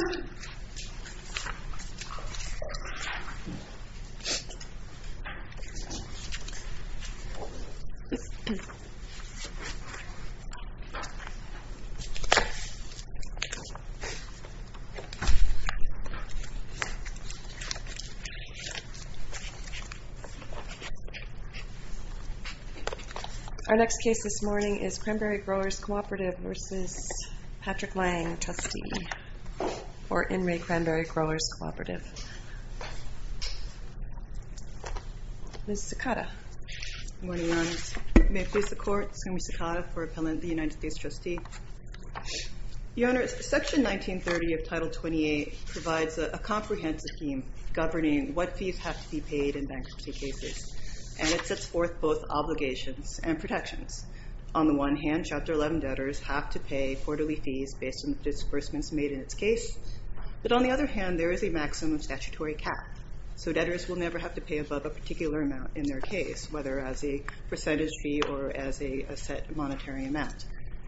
Our next case this morning is Cranberry Growers Cooperative v. Patrick Layng, trustee. Or in Ray Cranberry Growers Cooperative. Ms. Sakata. Good morning, Your Honor. May it please the Court, Ms. Sakata for appellant, the United States trustee. Your Honor, section 1930 of title 28 provides a comprehensive scheme governing what fees have to be paid in bankruptcy cases. And it sets forth both obligations and protections. On the one hand, Chapter 11 debtors have to pay quarterly fees based on the disbursements made in its case. But on the other hand, there is a maximum statutory cap. So debtors will never have to pay above a particular amount in their case, whether as a percentage fee or as a set monetary amount.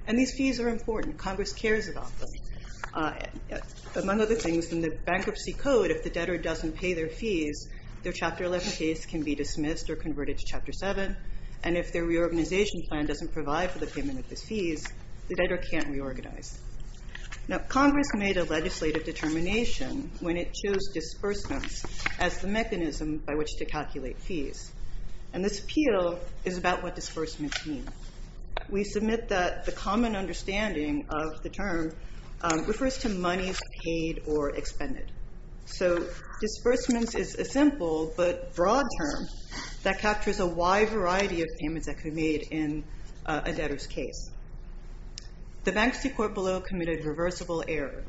And these fees are important. Congress cares about them. Among other things, in the bankruptcy code, if the debtor doesn't pay their fees, their Chapter 11 case can be dismissed or converted to Chapter 7. And if their reorganization plan doesn't provide for the payment of these fees, the debtor can't reorganize. Now, Congress made a legislative determination when it chose disbursements as the mechanism by which to calculate fees. And this appeal is about what disbursements mean. We submit that the common understanding of the term refers to monies paid or expended. So disbursements is a simple but broad term that captures a wide variety of payments that could be made in a debtor's case. The Bankruptcy Court below committed reversible error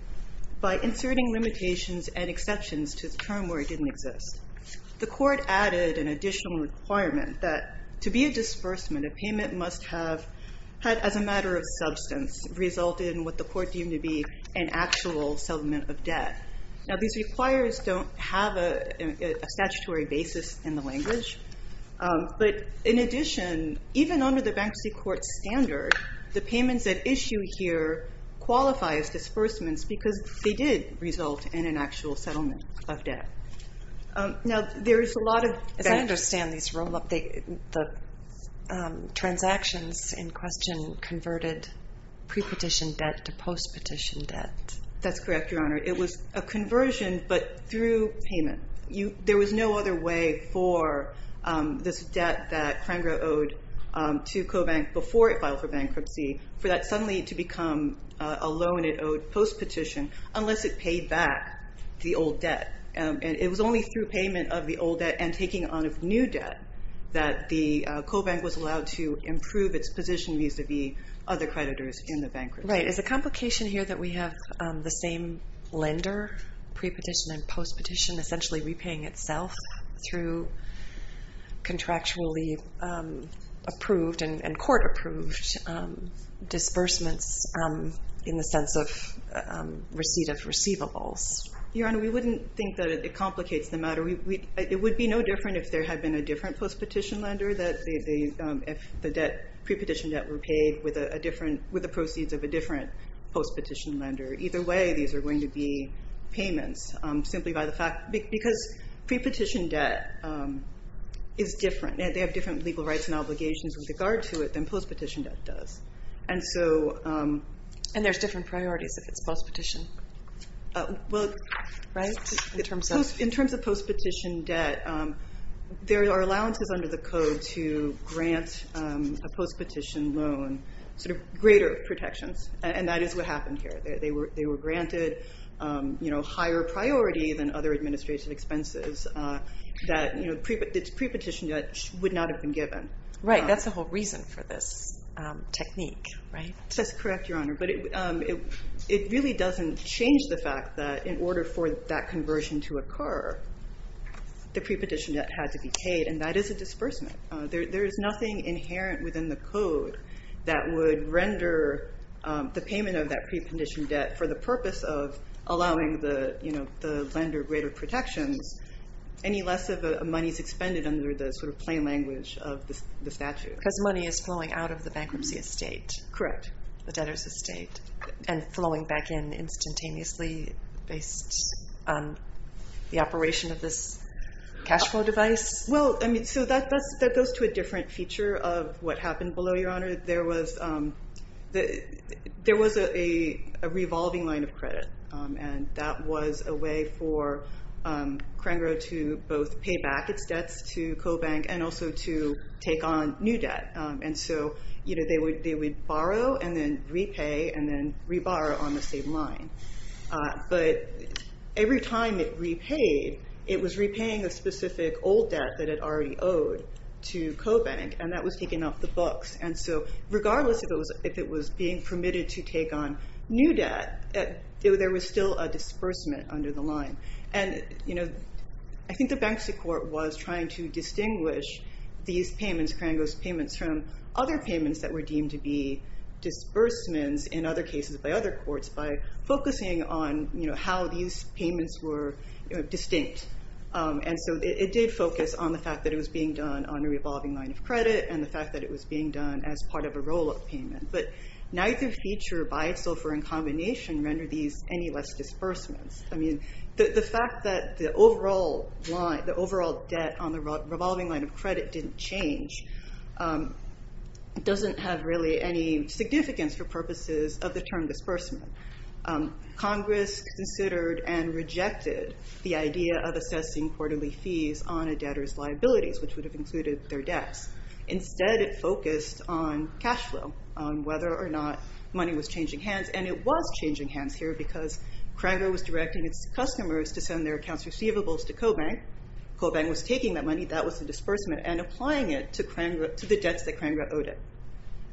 by inserting limitations and exceptions to the term where it didn't exist. The court added an additional requirement that to be a disbursement, a payment must have, as a matter of substance, result in what the court deemed to be an actual settlement of debt. Now, these requires don't have a statutory basis in the language. But in addition, even under the Bankruptcy Court standard, the payments at issue here qualify as disbursements because they did result in an actual settlement of debt. Now, there is a lot of... As I understand these roll-up, the transactions in question converted pre-petition debt to post-petition debt. That's correct, Your Honor. It was a conversion, but through payment. There was no other way for this debt that Kranger owed to Cobank before it filed for bankruptcy for that suddenly to become a loan it owed post-petition unless it paid back the old debt. It was only through payment of the old debt and taking on of new debt that the Cobank was allowed to improve its position vis-à-vis other creditors in the bankruptcy. Right. Is the complication here that we have the same lender, pre-petition and post-petition, essentially repaying itself through contractually approved and court-approved disbursements in the sense of receipt of receivables? Your Honor, we wouldn't think that it complicates the matter. It would be no different if there had been a different post-petition lender, if the pre-petition debt were paid with the proceeds of a different post-petition lender. Either way, these are going to be payments simply because pre-petition debt is different. They have different legal rights and obligations with regard to it than post-petition debt does. And there's different priorities if it's post-petition? In terms of post-petition debt, there are allowances under the Code to grant a post-petition loan greater protections, and that is what happened here. They were granted higher priority than other administrative expenses that pre-petition debt would not have been given. Right. That's the whole reason for this technique, right? That's correct, Your Honor, but it really doesn't change the fact that in order for that conversion to occur, the pre-petition debt had to be paid, and that is a disbursement. There is nothing inherent within the Code that would render the payment of that pre-petition debt for the purpose of allowing the lender greater protections any less of a money's expended under the sort of plain language of the statute. Because money is flowing out of the bankruptcy estate. Correct. The debtor's estate, and flowing back in instantaneously based on the operation of this cash flow device. Well, I mean, so that goes to a different feature of what happened below, Your Honor. There was a revolving line of credit, and that was a way for Crangrow to both pay back its debts to Cobank and also to take on new debt. And so they would borrow and then repay and then re-borrow on the same line. But every time it repaid, it was repaying a specific old debt that it already owed to Cobank, and that was taken off the books. And so regardless if it was being permitted to take on new debt, there was still a disbursement under the line. And I think the bankruptcy court was trying to distinguish these payments, Crangrow's payments, from other payments that were deemed to be disbursements in other cases by other courts by focusing on how these payments were distinct. And so it did focus on the fact that it was being done on a revolving line of credit and the fact that it was being done as part of a roll-up payment. But neither feature, by itself or in combination, rendered these any less disbursements. I mean, the fact that the overall debt on the revolving line of credit didn't change doesn't have really any significance for purposes of the term disbursement. Congress considered and rejected the idea of assessing quarterly fees on a debtor's liabilities, which would have included their debts. Instead, it focused on cash flow, on whether or not money was changing hands. And it was changing hands here because Crangrow was directing its customers to send their accounts receivables to Cobank. Cobank was taking that money, that was a disbursement, and applying it to the debts that Crangrow owed it.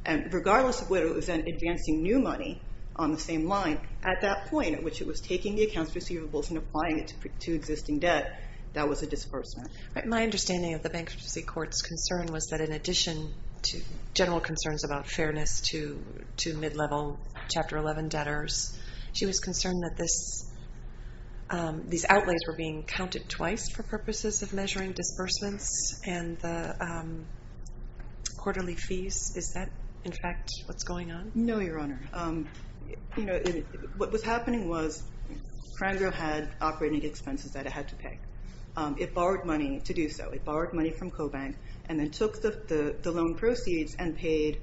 And regardless of whether it was advancing new money on the same line, at that point at which it was taking the accounts receivables and applying it to existing debt, that was a disbursement. My understanding of the bankruptcy court's concern was that in addition to general concerns about fairness to mid-level Chapter 11 debtors, she was concerned that these outlays were being counted twice for purposes of measuring disbursements and the quarterly fees. Is that, in fact, what's going on? No, Your Honor. What was happening was Crangrow had operating expenses that it had to pay. It borrowed money to do so. It borrowed money from Cobank and then took the loan proceeds and paid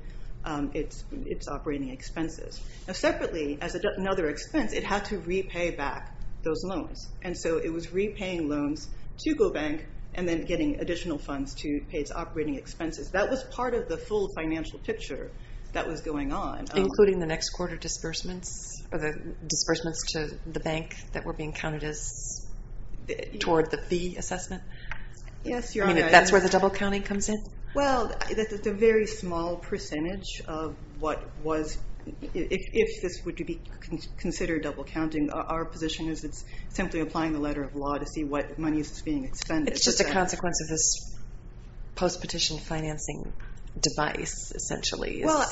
its operating expenses. Now, separately, as another expense, it had to repay back those loans. And so it was repaying loans to Cobank and then getting additional funds to pay its operating expenses. That was part of the full financial picture that was going on. Including the next quarter disbursements or the disbursements to the bank that were being counted as toward the fee assessment? Yes, Your Honor. I mean, that's where the double counting comes in? Well, it's a very small percentage of what was, if this were to be considered double counting, our position is it's simply applying the letter of law to see what money is being expended. It's just a consequence of this post-petition financing device, essentially. Well,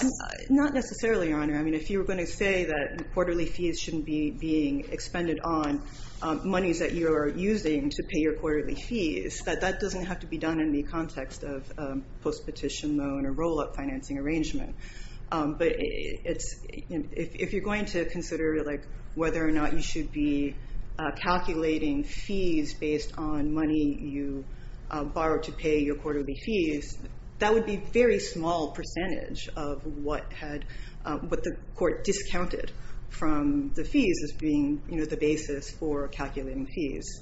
not necessarily, Your Honor. I mean, if you were going to say that quarterly fees shouldn't be being expended on monies that you're using to pay your quarterly fees, that doesn't have to be done in the context of post-petition loan or roll-up financing arrangement. But if you're going to consider whether or not you should be calculating fees based on money you borrowed to pay your quarterly fees, that would be a very small percentage of what the court discounted from the fees as being the basis for calculating fees.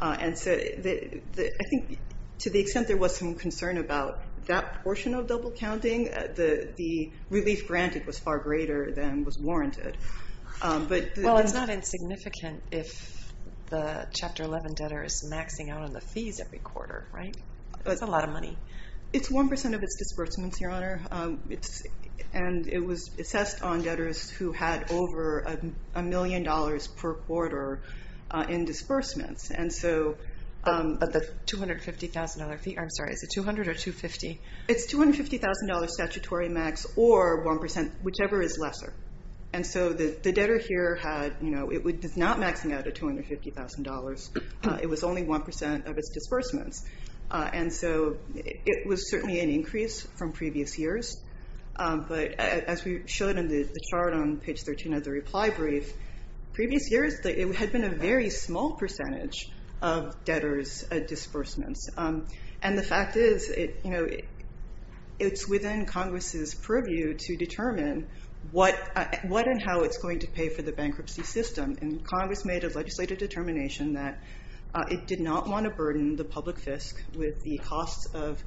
And so I think to the extent there was some concern about that portion of double counting, the relief granted was far greater than was warranted. Well, it's not insignificant if the Chapter 11 debtor is maxing out on the fees every quarter, right? That's a lot of money. It's 1% of its disbursements, Your Honor. And it was assessed on debtors who had over a million dollars per quarter in disbursements. But the $250,000 fee, I'm sorry, is it $200,000 or $250,000? It's $250,000 statutory max or 1%, whichever is lesser. And so the debtor here had, you know, it's not maxing out at $250,000. It was only 1% of its disbursements. And so it was certainly an increase from previous years. But as we showed in the chart on page 13 of the reply brief, previous years it had been a very small percentage of debtors' disbursements. And the fact is, you know, it's within Congress's purview to determine what and how it's going to pay for the bankruptcy system. And Congress made a legislative determination that it did not want to burden the public fisc with the costs of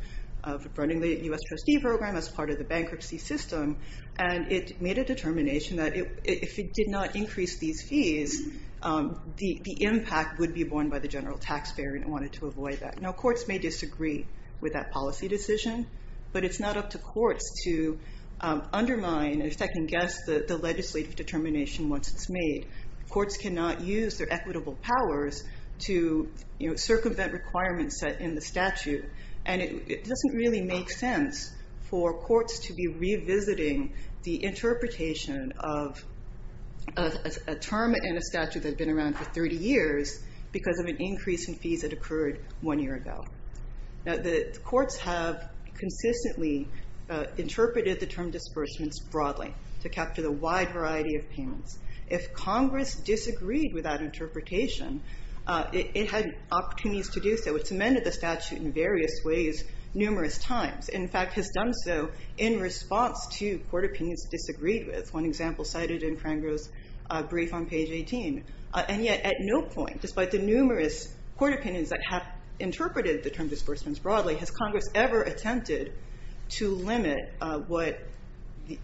running the U.S. trustee program as part of the bankruptcy system. And it made a determination that if it did not increase these fees, the impact would be borne by the general taxpayer and it wanted to avoid that. Now courts may disagree with that policy decision, but it's not up to courts to undermine, if I can guess, the legislative determination once it's made. Courts cannot use their equitable powers to circumvent requirements set in the statute. And it doesn't really make sense for courts to be revisiting the interpretation of a term and a statute that had been around for 30 years because of an increase in fees that occurred one year ago. Now the courts have consistently interpreted the term disbursements broadly to capture the wide variety of payments. If Congress disagreed with that interpretation, it had opportunities to do so. It's amended the statute in various ways numerous times. In fact, has done so in response to court opinions it disagreed with. One example cited in Crangrove's brief on page 18. And yet at no point, despite the numerous court opinions that have interpreted the term disbursements broadly, has Congress ever attempted to limit sort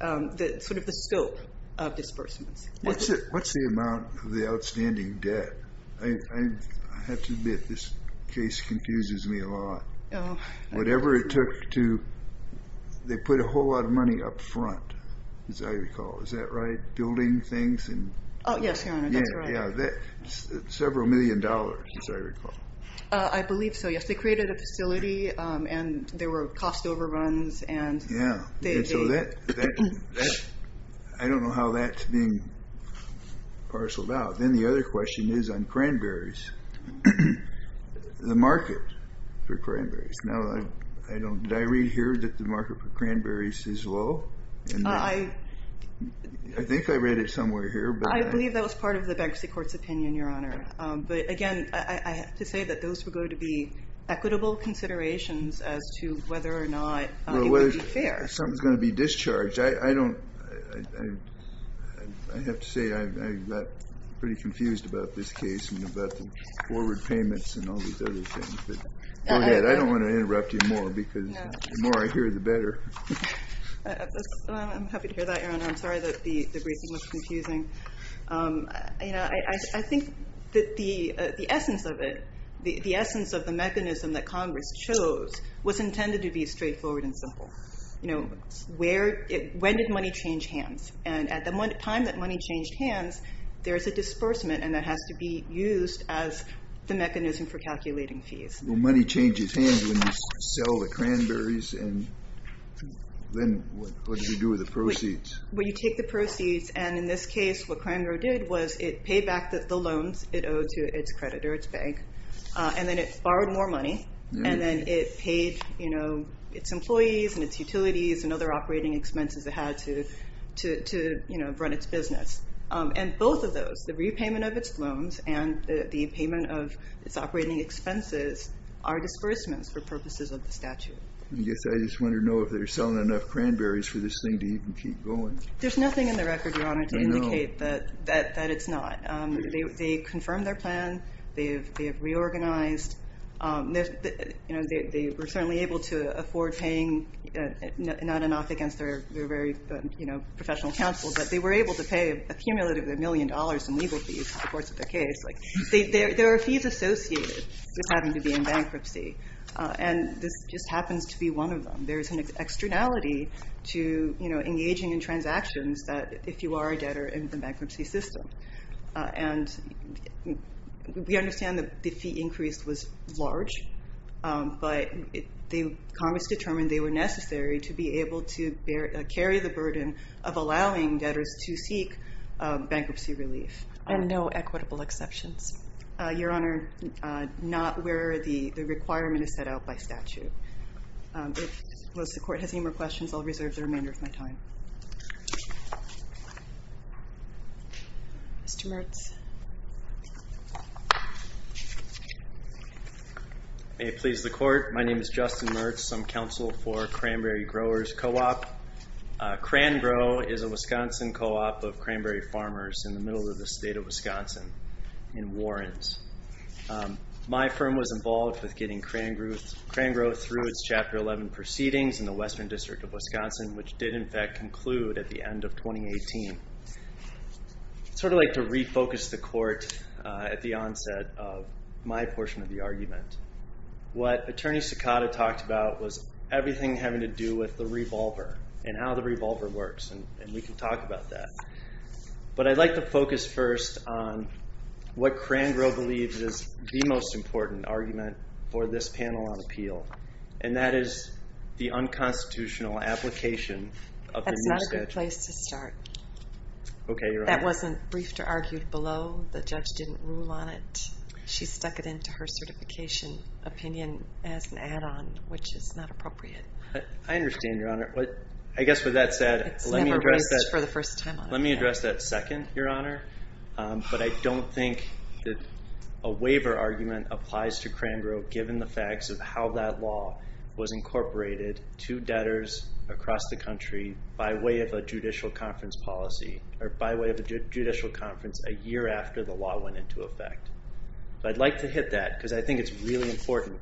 of the scope of disbursements. What's the amount of the outstanding debt? I have to admit, this case confuses me a lot. Whatever it took to, they put a whole lot of money up front, as I recall. Is that right? Building things? Yes, Your Honor, that's right. Several million dollars, as I recall. I believe so, yes. They created a facility and there were cost overruns. Yeah. I don't know how that's being parceled out. Then the other question is on cranberries. The market for cranberries. Did I read here that the market for cranberries is low? I think I read it somewhere here. I believe that was part of the Bankruptcy Court's opinion, Your Honor. But again, I have to say that those were going to be equitable considerations as to whether or not it would be fair. Something's going to be discharged. I have to say I got pretty confused about this case and about the forward payments and all these other things. Go ahead. I don't want to interrupt you more because the more I hear, the better. I'm happy to hear that, Your Honor. I'm sorry that the briefing was confusing. I think that the essence of it, the essence of the mechanism that Congress chose, was intended to be straightforward and simple. When did money change hands? And at the time that money changed hands, there's a disbursement, and that has to be used as the mechanism for calculating fees. Well, money changes hands when you sell the cranberries, and then what do you do with the proceeds? Well, you take the proceeds, and in this case, what Cranberry did was it paid back the loans it owed to its creditor, its bank, and then it borrowed more money, and then it paid its employees and its utilities and other operating expenses it had to run its business. And both of those, the repayment of its loans and the payment of its operating expenses, are disbursements for purposes of the statute. I guess I just want to know if they're selling enough cranberries for this thing to even keep going. There's nothing in the record, Your Honor, to indicate that it's not. They confirmed their plan. They have reorganized. They were certainly able to afford paying not enough against their very professional counsel, but they were able to pay a cumulative million dollars in legal fees in the course of the case. There are fees associated with having to be in bankruptcy, and this just happens to be one of them. There's an externality to engaging in transactions if you are a debtor in the bankruptcy system. And we understand that the fee increase was large, but Congress determined they were necessary to be able to carry the burden of allowing debtors to seek bankruptcy relief. And no equitable exceptions? Your Honor, not where the requirement is set out by statute. If the court has any more questions, I'll reserve the remainder of my time. Mr. Mertz. May it please the court, my name is Justin Mertz. I'm counsel for Cranberry Growers Co-op. Cran Grow is a Wisconsin co-op of Cranberry Farmers in the middle of the state of Wisconsin in Warrens. My firm was involved with getting Cran Grow through its Chapter 11 proceedings in the Western District of Wisconsin, which did in fact conclude at the end of 2018. I'd sort of like to refocus the court at the onset of my portion of the argument. What Attorney Sakata talked about was everything having to do with the revolver and how the revolver works, and we can talk about that. But I'd like to focus first on what Cran Grow believes is the most important argument for this panel on appeal, and that is the unconstitutional application of the new statute. That's not a good place to start. Okay, Your Honor. That wasn't briefed or argued below. The judge didn't rule on it. She stuck it into her certification opinion as an add-on, which is not appropriate. I understand, Your Honor. I guess with that said, let me address that second, Your Honor. But I don't think that a waiver argument applies to Cran Grow given the facts of how that law was incorporated to debtors across the country by way of a judicial conference policy or by way of a judicial conference a year after the law went into effect. But I'd like to hit that because I think it's really important.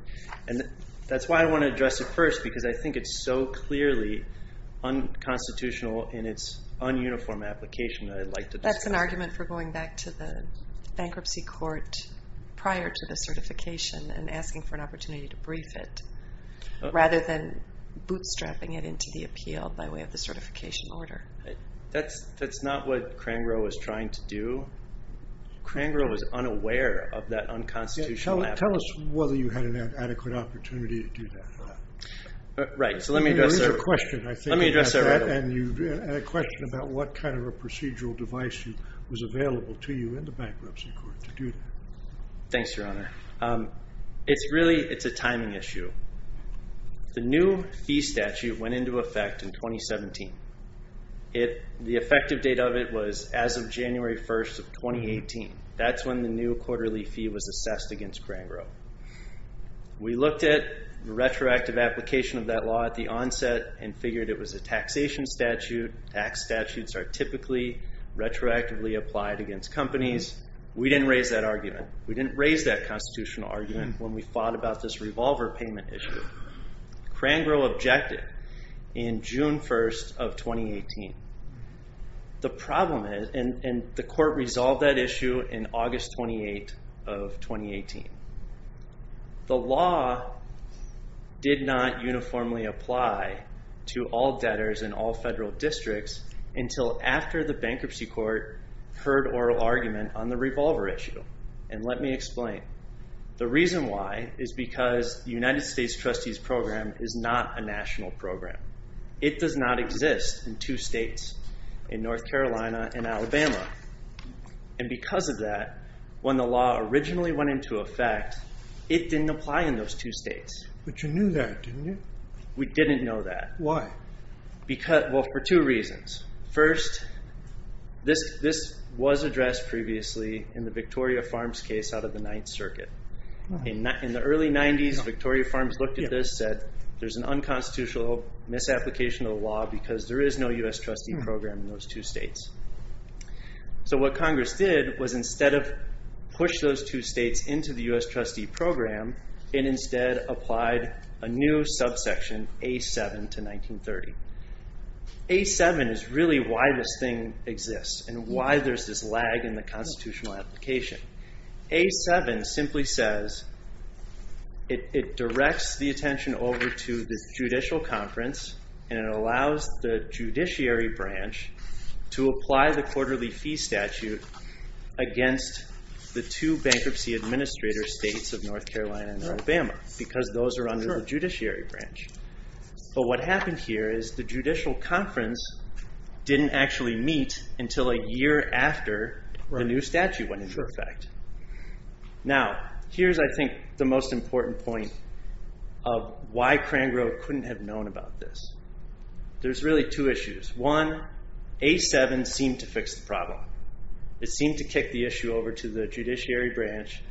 And that's why I want to address it first because I think it's so clearly unconstitutional in its ununiform application that I'd like to discuss. That's an argument for going back to the bankruptcy court prior to the certification and asking for an opportunity to brief it rather than bootstrapping it into the appeal by way of the certification order. That's not what Cran Grow was trying to do. Cran Grow was unaware of that unconstitutional application. Tell us whether you had an adequate opportunity to do that. Right. So let me address that. Let me address that. And a question about what kind of a procedural device was available to you in the bankruptcy court to do that. Thanks, Your Honor. It's really a timing issue. The new fee statute went into effect in 2017. The effective date of it was as of January 1st of 2018. That's when the new quarterly fee was assessed against Cran Grow. We looked at the retroactive application of that law at the onset and figured it was a taxation statute. Tax statutes are typically retroactively applied against companies. We didn't raise that argument. We didn't raise that constitutional argument when we fought about this revolver payment issue. Cran Grow objected in June 1st of 2018. The problem is, and the court resolved that issue in August 28th of 2018. The law did not uniformly apply to all debtors in all federal districts until after the bankruptcy court heard oral argument on the revolver issue. And let me explain. The reason why is because the United States Trustees Program is not a national program. It does not exist in two states, in North Carolina and Alabama. And because of that, when the law originally went into effect, it didn't apply in those two states. But you knew that, didn't you? We didn't know that. Why? Well, for two reasons. First, this was addressed previously in the Victoria Farms case out of the Ninth Circuit. In the early 90s, Victoria Farms looked at this, said, there's an unconstitutional misapplication of the law because there is no U.S. Trustee Program in those two states. So what Congress did was instead of push those two states into the U.S. Trustee Program, it instead applied a new subsection, A-7, to 1930. A-7 is really why this thing exists and why there's this lag in the constitutional application. A-7 simply says it directs the attention over to the judicial conference and it allows the judiciary branch to apply the quarterly fee statute against the two bankruptcy administrator states of North Carolina and Alabama because those are under the judiciary branch. But what happened here is the judicial conference didn't actually meet until a year after the new statute went into effect. Now, here's, I think, the most important point of why Crangrove couldn't have known about this. There's really two issues. One, A-7 seemed to fix the problem. It seemed to kick the issue over to the judiciary branch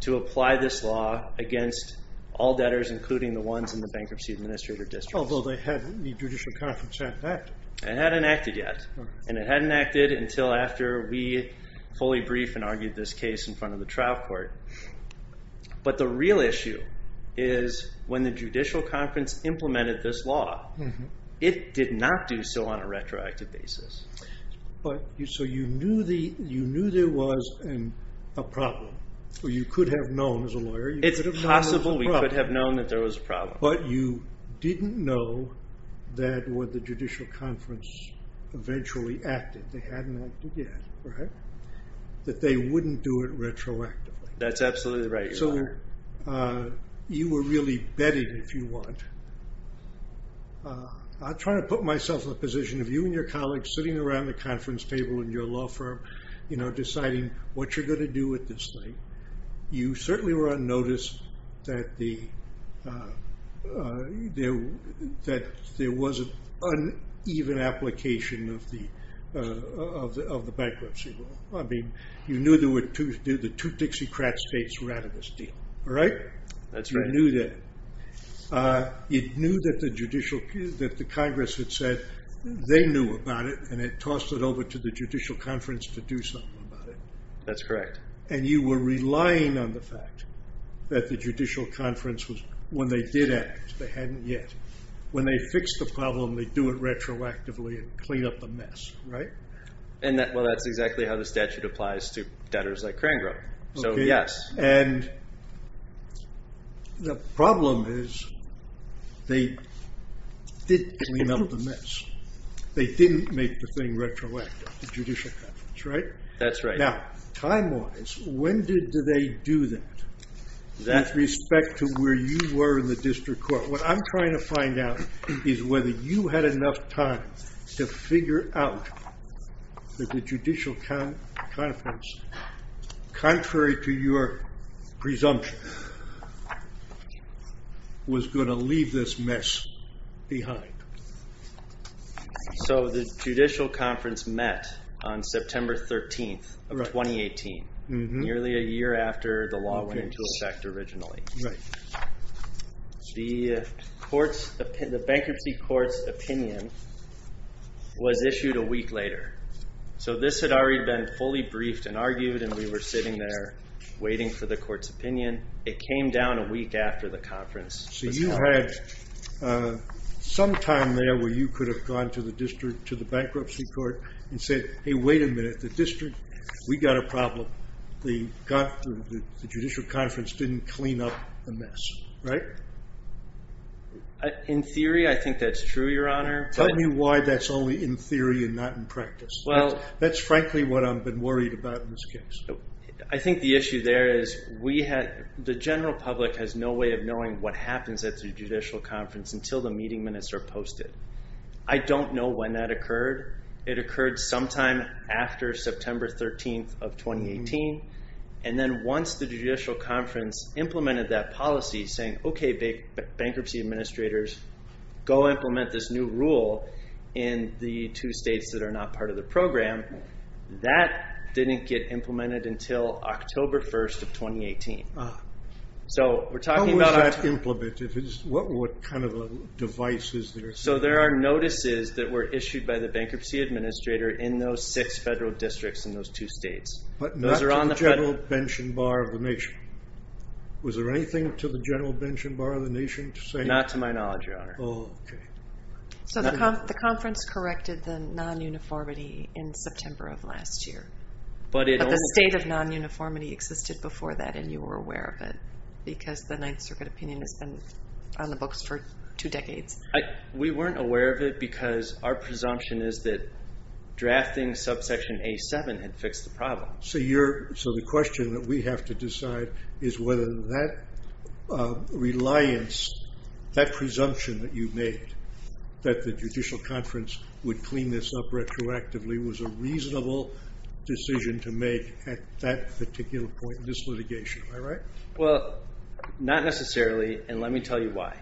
to apply this law against all debtors, including the ones in the bankruptcy administrator district. Although the judicial conference hadn't acted. It hadn't acted yet, and it hadn't acted until after we fully briefed and argued this case in front of the trial court. But the real issue is when the judicial conference implemented this law, it did not do so on a retroactive basis. So you knew there was a problem, or you could have known as a lawyer. It's possible we could have known that there was a problem. But you didn't know that when the judicial conference eventually acted, they hadn't acted yet, that they wouldn't do it retroactively. That's absolutely right, Your Honor. So you were really betting, if you want. I'm trying to put myself in the position of you and your colleagues sitting around the conference table in your law firm, deciding what you're going to do with this thing. You certainly were on notice that there was an uneven application of the bankruptcy law. I mean, you knew the two Dixiecrat states were out of this deal, all right? That's right. You knew that. You knew that the Congress had said they knew about it, and had tossed it over to the judicial conference to do something about it. That's correct. And you were relying on the fact that the judicial conference, when they did act, they hadn't yet. When they fixed the problem, they'd do it retroactively and clean up the mess, right? Well, that's exactly how the statute applies to debtors like Crangrove. So, yes. And the problem is they didn't clean up the mess. They didn't make the thing retroactive, the judicial conference, right? That's right. Now, time-wise, when did they do that with respect to where you were in the district court? What I'm trying to find out is whether you had enough time to figure out that the judicial conference, contrary to your presumption, was going to leave this mess behind. So, the judicial conference met on September 13th of 2018, nearly a year after the law went into effect originally. Right. The bankruptcy court's opinion was issued a week later. So, this had already been fully briefed and argued, and we were sitting there waiting for the court's opinion. It came down a week after the conference. So, you had some time there where you could have gone to the bankruptcy court and said, Hey, wait a minute. The district, we got a problem. The judicial conference didn't clean up the mess, right? In theory, I think that's true, Your Honor. Tell me why that's only in theory and not in practice. That's frankly what I've been worried about in this case. I think the issue there is the general public has no way of knowing what happens at the judicial conference until the meeting minutes are posted. I don't know when that occurred. It occurred sometime after September 13th of 2018. And then once the judicial conference implemented that policy saying, Okay, bankruptcy administrators, go implement this new rule in the two states that are not part of the program, that didn't get implemented until October 1st of 2018. How was that implemented? What kind of a device is there? So, there are notices that were issued by the bankruptcy administrator in those six federal districts in those two states. But not to the general bench and bar of the nation. Was there anything to the general bench and bar of the nation to say? Not to my knowledge, Your Honor. Oh, okay. So, the conference corrected the non-uniformity in September of last year. But the state of non-uniformity existed before that and you were aware of it because the Ninth Circuit opinion has been on the books for two decades. We weren't aware of it because our presumption is that drafting subsection A-7 had fixed the problem. So, the question that we have to decide is whether that reliance, that presumption that you made that the judicial conference would clean this up retroactively was a reasonable decision to make at that particular point in this litigation. Am I right? Well, not necessarily. And let me tell you why.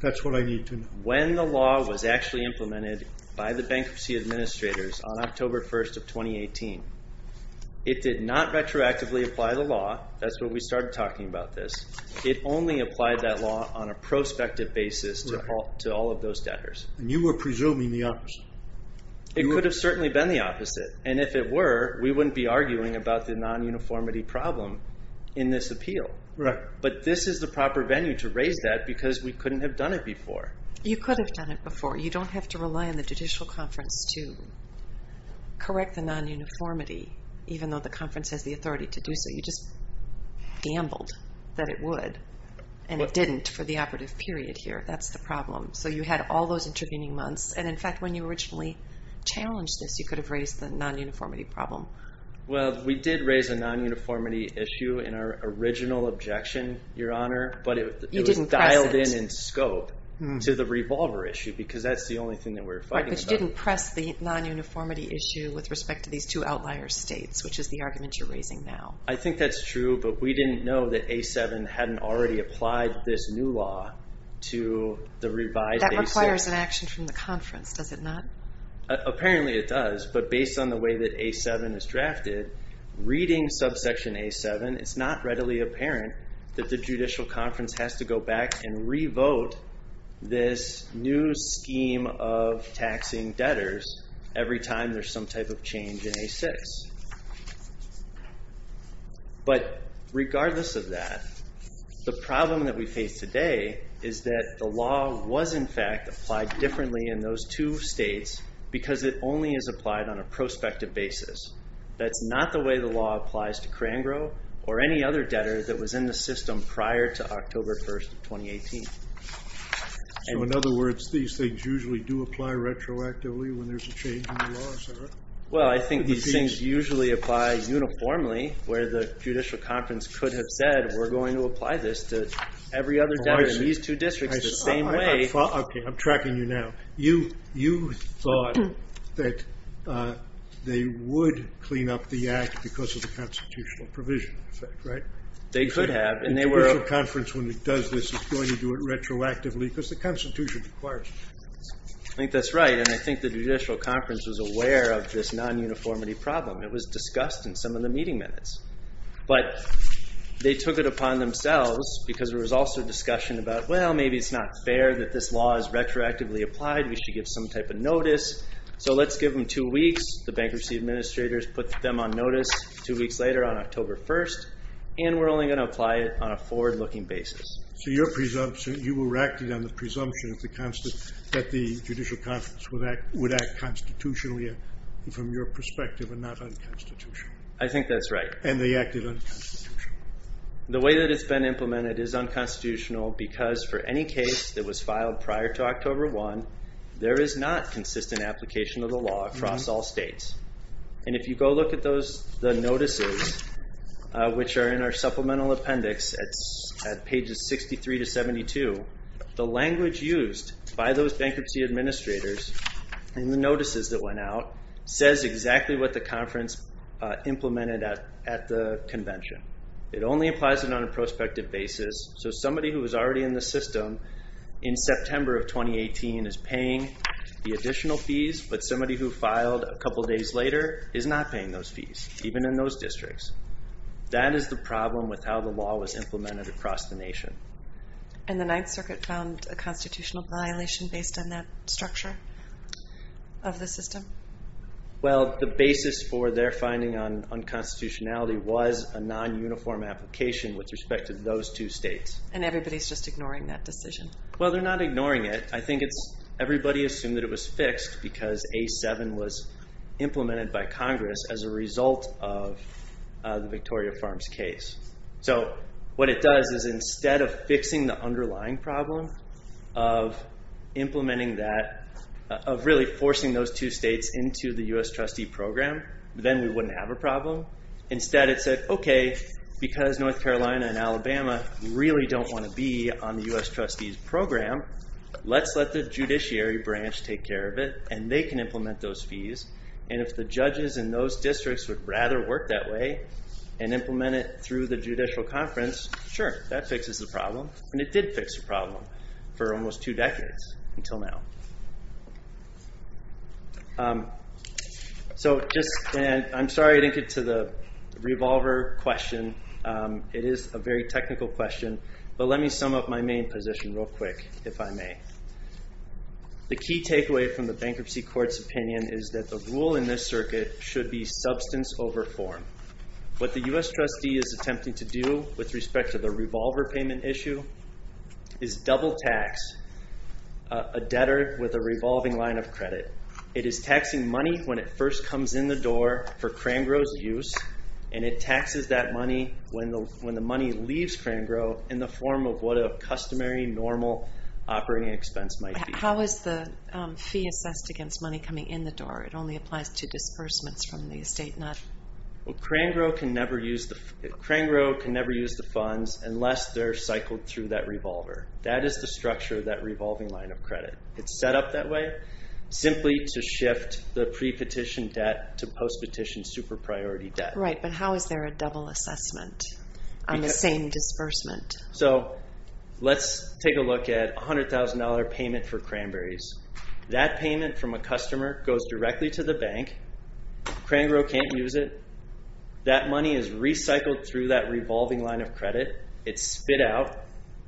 That's what I need to know. When the law was actually implemented by the bankruptcy administrators on October 1st of 2018, it did not retroactively apply the law. That's when we started talking about this. It only applied that law on a prospective basis to all of those debtors. And you were presuming the opposite. It could have certainly been the opposite. And if it were, we wouldn't be arguing about the non-uniformity problem in this appeal. Right. But this is the proper venue to raise that because we couldn't have done it before. You could have done it before. You don't have to rely on the judicial conference to correct the non-uniformity, even though the conference has the authority to do so. You just gambled that it would. And it didn't for the operative period here. That's the problem. So, you had all those intervening months. And, in fact, when you originally challenged this, you could have raised the non-uniformity problem. Well, we did raise a non-uniformity issue in our original objection, Your Honor. But it was dialed in in scope to the revolver issue because that's the only thing that we were fighting about. But you didn't press the non-uniformity issue with respect to these two outlier states, which is the argument you're raising now. I think that's true. But we didn't know that A7 hadn't already applied this new law to the revised A6. That requires an action from the conference, does it not? Apparently it does. But based on the way that A7 is drafted, reading subsection A7, it's not readily apparent that the judicial conference has to go back and revote this new scheme of taxing debtors every time there's some type of change in A6. But regardless of that, the problem that we face today is that the law was, in fact, applied differently in those two states because it only is applied on a prospective basis. That's not the way the law applies to Crangrove or any other debtor that was in the system prior to October 1, 2018. So, in other words, these things usually do apply retroactively when there's a change in the law, is that right? Well, I think these things usually apply uniformly where the judicial conference could have said, we're going to apply this to every other debtor in these two districts the same way. I'm tracking you now. You thought that they would clean up the act because of the constitutional provision, right? They could have. The judicial conference, when it does this, is going to do it retroactively because the Constitution requires it. I think that's right. And I think the judicial conference was aware of this non-uniformity problem. It was discussed in some of the meeting minutes. But they took it upon themselves because there was also discussion about, well, maybe it's not fair that this law is retroactively applied. We should give some type of notice. So let's give them two weeks. The bankruptcy administrators put them on notice two weeks later on October 1, and we're only going to apply it on a forward-looking basis. So you were acting on the presumption that the judicial conference would act constitutionally from your perspective and not unconstitutionally. I think that's right. And they acted unconstitutionally. The way that it's been implemented is unconstitutional because for any case that was filed prior to October 1, there is not consistent application of the law across all states. And if you go look at the notices, which are in our supplemental appendix at pages 63 to 72, the language used by those bankruptcy administrators in the notices that went out says exactly what the conference implemented at the convention. It only applies it on a prospective basis. So somebody who was already in the system in September of 2018 is paying the additional fees, but somebody who filed a couple days later is not paying those fees, even in those districts. That is the problem with how the law was implemented across the nation. And the Ninth Circuit found a constitutional violation based on that structure of the system? Well, the basis for their finding on unconstitutionality was a non-uniform application with respect to those two states. And everybody is just ignoring that decision. Well, they're not ignoring it. I think everybody assumed that it was fixed because A7 was implemented by Congress as a result of the Victoria Farms case. So what it does is instead of fixing the underlying problem of implementing that, of really forcing those two states into the U.S. trustee program, then we wouldn't have a problem. Instead, it said, okay, because North Carolina and Alabama really don't want to be on the U.S. trustees program, let's let the judiciary branch take care of it, and they can implement those fees. And if the judges in those districts would rather work that way and implement it through the judicial conference, sure, that fixes the problem. And it did fix the problem for almost two decades, until now. I'm sorry I didn't get to the revolver question. It is a very technical question, but let me sum up my main position real quick, if I may. The key takeaway from the bankruptcy court's opinion is that the rule in this circuit should be substance over form. What the U.S. trustee is attempting to do with respect to the revolver payment issue is double tax a debtor with a revolving line of credit. It is taxing money when it first comes in the door for Crangrove's use, and it taxes that money when the money leaves Crangrove in the form of what a customary, normal operating expense might be. How is the fee assessed against money coming in the door? It only applies to disbursements from the estate, not... Well, Crangrove can never use the funds unless they're cycled through that revolver. That is the structure of that revolving line of credit. It's set up that way simply to shift the pre-petition debt to post-petition super-priority debt. Right, but how is there a double assessment on the same disbursement? So let's take a look at $100,000 payment for cranberries. That payment from a customer goes directly to the bank. Crangrove can't use it. That money is recycled through that revolving line of credit. It's spit out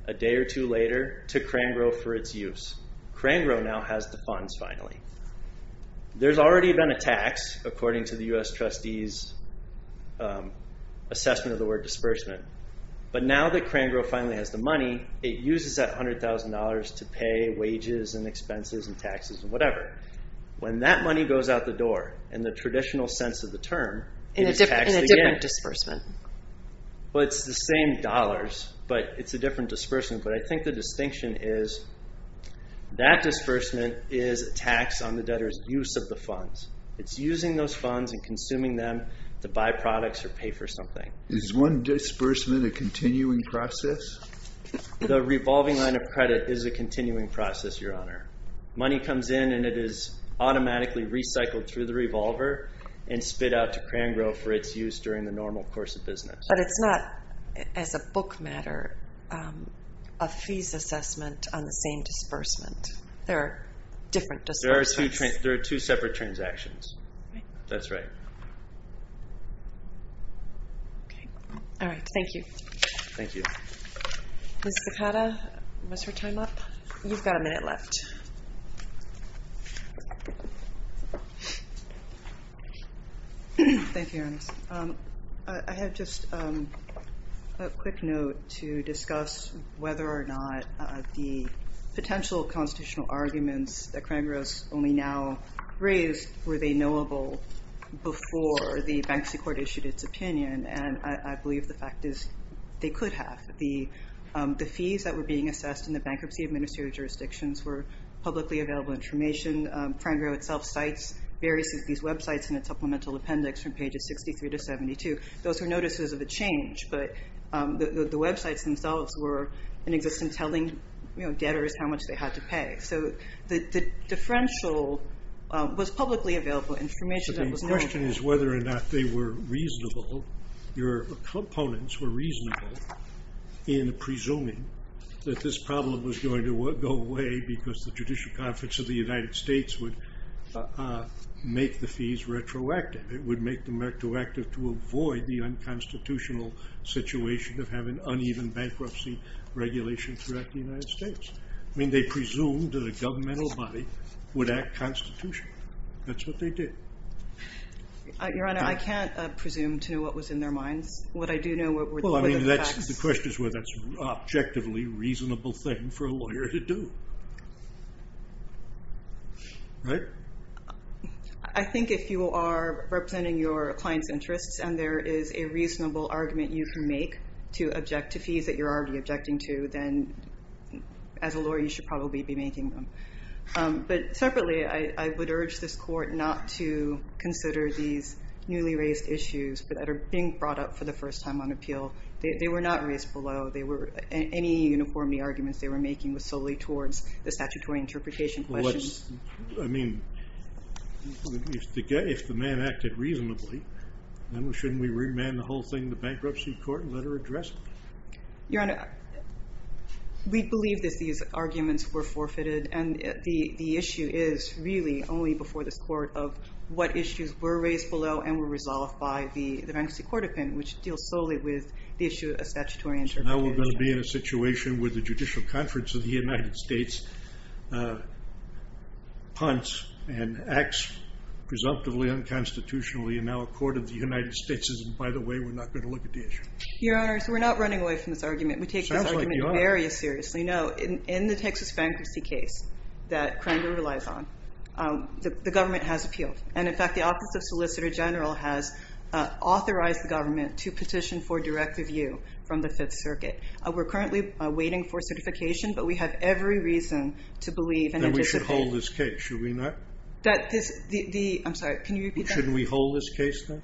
a day or two later to Crangrove for its use. Crangrove now has the funds finally. There's already been a tax, according to the U.S. Trustee's assessment of the word disbursement. But now that Crangrove finally has the money, it uses that $100,000 to pay wages and expenses and taxes and whatever. When that money goes out the door, in the traditional sense of the term, it is taxed again. In a different disbursement. Well, it's the same dollars, but it's a different disbursement. But I think the distinction is that disbursement is a tax on the debtor's use of the funds. It's using those funds and consuming them to buy products or pay for something. Is one disbursement a continuing process? The revolving line of credit is a continuing process, Your Honor. Money comes in and it is automatically recycled through the revolver and spit out to Crangrove for its use during the normal course of business. But it's not, as a book matter, a fees assessment on the same disbursement. There are different disbursements. There are two separate transactions. That's right. All right. Thank you. Thank you. Ms. Zaccata, was her time up? You've got a minute left. Thank you, Your Honor. I have just a quick note to discuss whether or not the potential constitutional arguments that Crangrove's only now raised, were they knowable before the bankruptcy court issued its opinion? And I believe the fact is they could have. The fees that were being assessed in the bankruptcy administrative jurisdictions were publicly available information. And Crangrove itself cites various of these websites in its supplemental appendix from pages 63 to 72. Those are notices of a change. But the websites themselves were in existence telling debtors how much they had to pay. So the differential was publicly available information that was knowledgeable. So the question is whether or not they were reasonable, your opponents were reasonable, in presuming that this problem was going to go away because the Judicial Conference of the United States would make the fees retroactive. It would make them retroactive to avoid the unconstitutional situation of having uneven bankruptcy regulation throughout the United States. I mean, they presumed that a governmental body would act constitutionally. That's what they did. Your Honor, I can't presume to know what was in their minds. Well, I mean, the question is whether that's an objectively reasonable thing for a lawyer to do. I think if you are representing your client's interests and there is a reasonable argument you can make to object to fees that you're already objecting to, then as a lawyer you should probably be making them. But separately, I would urge this Court not to consider these newly raised issues that are being brought up for the first time on appeal. They were not raised below. Any uniformity arguments they were making was solely towards the statutory interpretation questions. I mean, if the man acted reasonably, then shouldn't we remand the whole thing to bankruptcy court and let her address it? Your Honor, we believe that these arguments were forfeited. And the issue is really only before this Court of what issues were raised below and were resolved by the bankruptcy court opinion, which deals solely with the issue of statutory interpretation. So now we're going to be in a situation where the Judicial Conference of the United States punts and acts presumptively unconstitutionally and now a court of the United States says, by the way, we're not going to look at the issue. Your Honor, so we're not running away from this argument. We take this argument very seriously. No, in the Texas bankruptcy case that Crandall relies on, the government has appealed. And in fact, the Office of Solicitor General has authorized the government to petition for direct review from the Fifth Circuit. We're currently waiting for certification, but we have every reason to believe and anticipate. Then we should hold this case, should we not? I'm sorry, can you repeat that? Shouldn't we hold this case then?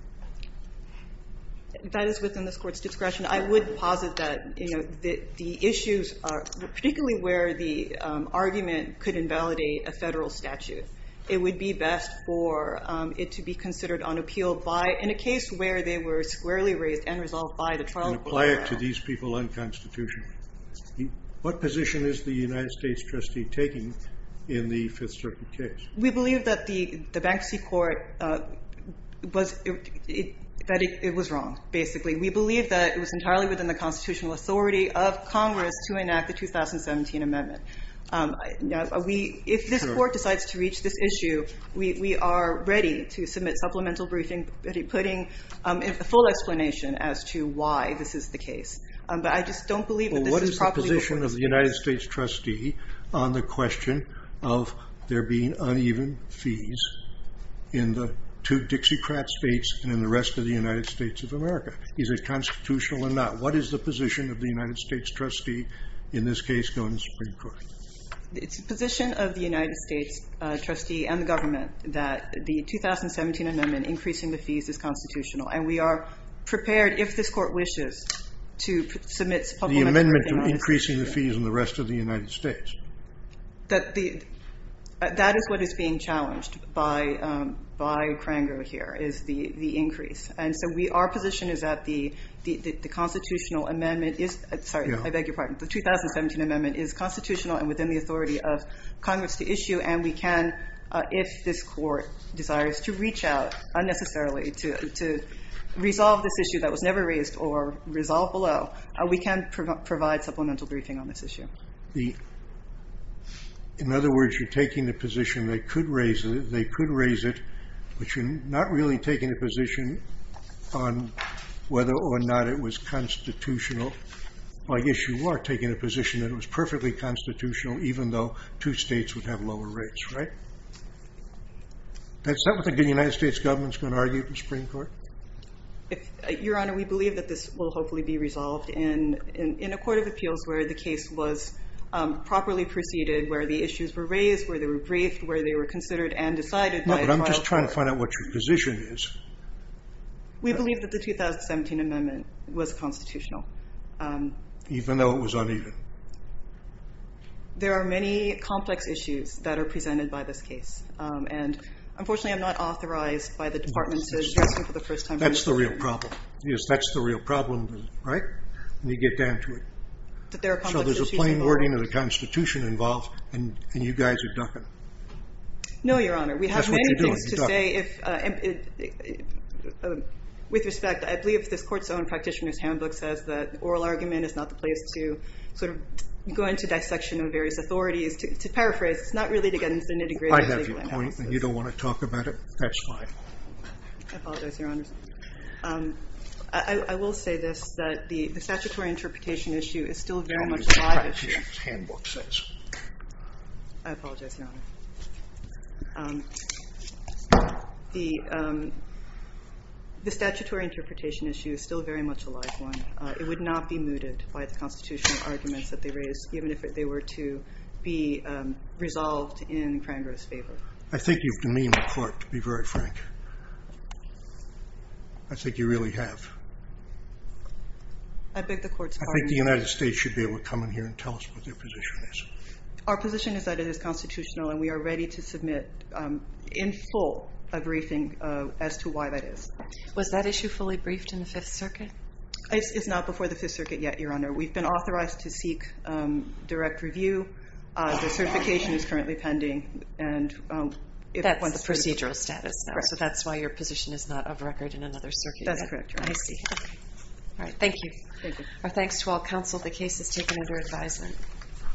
That is within this Court's discretion. I would posit that the issues, particularly where the argument could invalidate a federal statute, it would be best for it to be considered on appeal in a case where they were squarely raised and resolved by the trial program. And apply it to these people unconstitutionally. What position is the United States trustee taking in the Fifth Circuit case? We believe that the bankruptcy court, that it was wrong, basically. We believe that it was entirely within the constitutional authority of Congress to enact the 2017 amendment. If this Court decides to reach this issue, we are ready to submit supplemental briefing, putting a full explanation as to why this is the case. What is the position of the United States trustee on the question of there being uneven fees in the two Dixiecrat states and in the rest of the United States of America? Is it constitutional or not? What is the position of the United States trustee in this case going to the Supreme Court? It's the position of the United States trustee and the government that the 2017 amendment increasing the fees is constitutional. And we are prepared, if this Court wishes, to submit supplemental briefing on this issue. The amendment to increasing the fees in the rest of the United States? That is what is being challenged by Kranger here, is the increase. And so our position is that the constitutional amendment is, sorry, I beg your pardon, the 2017 amendment is constitutional and within the authority of Congress to issue. And we can, if this Court desires to reach out unnecessarily to resolve this issue that was never raised or resolve below, we can provide supplemental briefing on this issue. In other words, you're taking the position they could raise it, but you're not really taking a position on whether or not it was constitutional. I guess you are taking a position that it was perfectly constitutional, even though two states would have lower rates, right? Is that what the United States government is going to argue to the Supreme Court? Your Honor, we believe that this will hopefully be resolved in a court of appeals where the case was properly preceded, where the issues were raised, where they were briefed, where they were considered and decided by a trial court. No, but I'm just trying to find out what your position is. We believe that the 2017 amendment was constitutional. Even though it was uneven? There are many complex issues that are presented by this case. And unfortunately, I'm not authorized by the Department to address you for the first time. That's the real problem. Yes, that's the real problem, right? Let me get down to it. So there's a plain wording of the Constitution involved and you guys are ducking. No, Your Honor, we have many things to say. That's what you're doing, you're ducking. With respect, I believe this court's own practitioner's handbook says that oral argument is not the place to sort of go into dissection of various authorities. To paraphrase, it's not really to get into the nitty-gritty of legal analysis. I have your point and you don't want to talk about it? That's fine. I apologize, Your Honor. I will say this, that the statutory interpretation issue is still very much alive. They don't use the practitioner's handbook, it says. I apologize, Your Honor. The statutory interpretation issue is still very much alive, Your Honor. It would not be mooted by the constitutional arguments that they raise, even if they were to be resolved in Crangrove's favor. I think you've demeaned the court, to be very frank. I think you really have. I beg the court's pardon? I think the United States should be able to come in here and tell us what their position is. Our position is that it is constitutional and we are ready to submit in full a briefing as to why that is. Was that issue fully briefed in the Fifth Circuit? It's not before the Fifth Circuit yet, Your Honor. We've been authorized to seek direct review. The certification is currently pending. That's the procedural status now, so that's why your position is not of record in another circuit yet. That's correct, Your Honor. I see. Thank you. Our thanks to all counsel. The case is taken under advisement.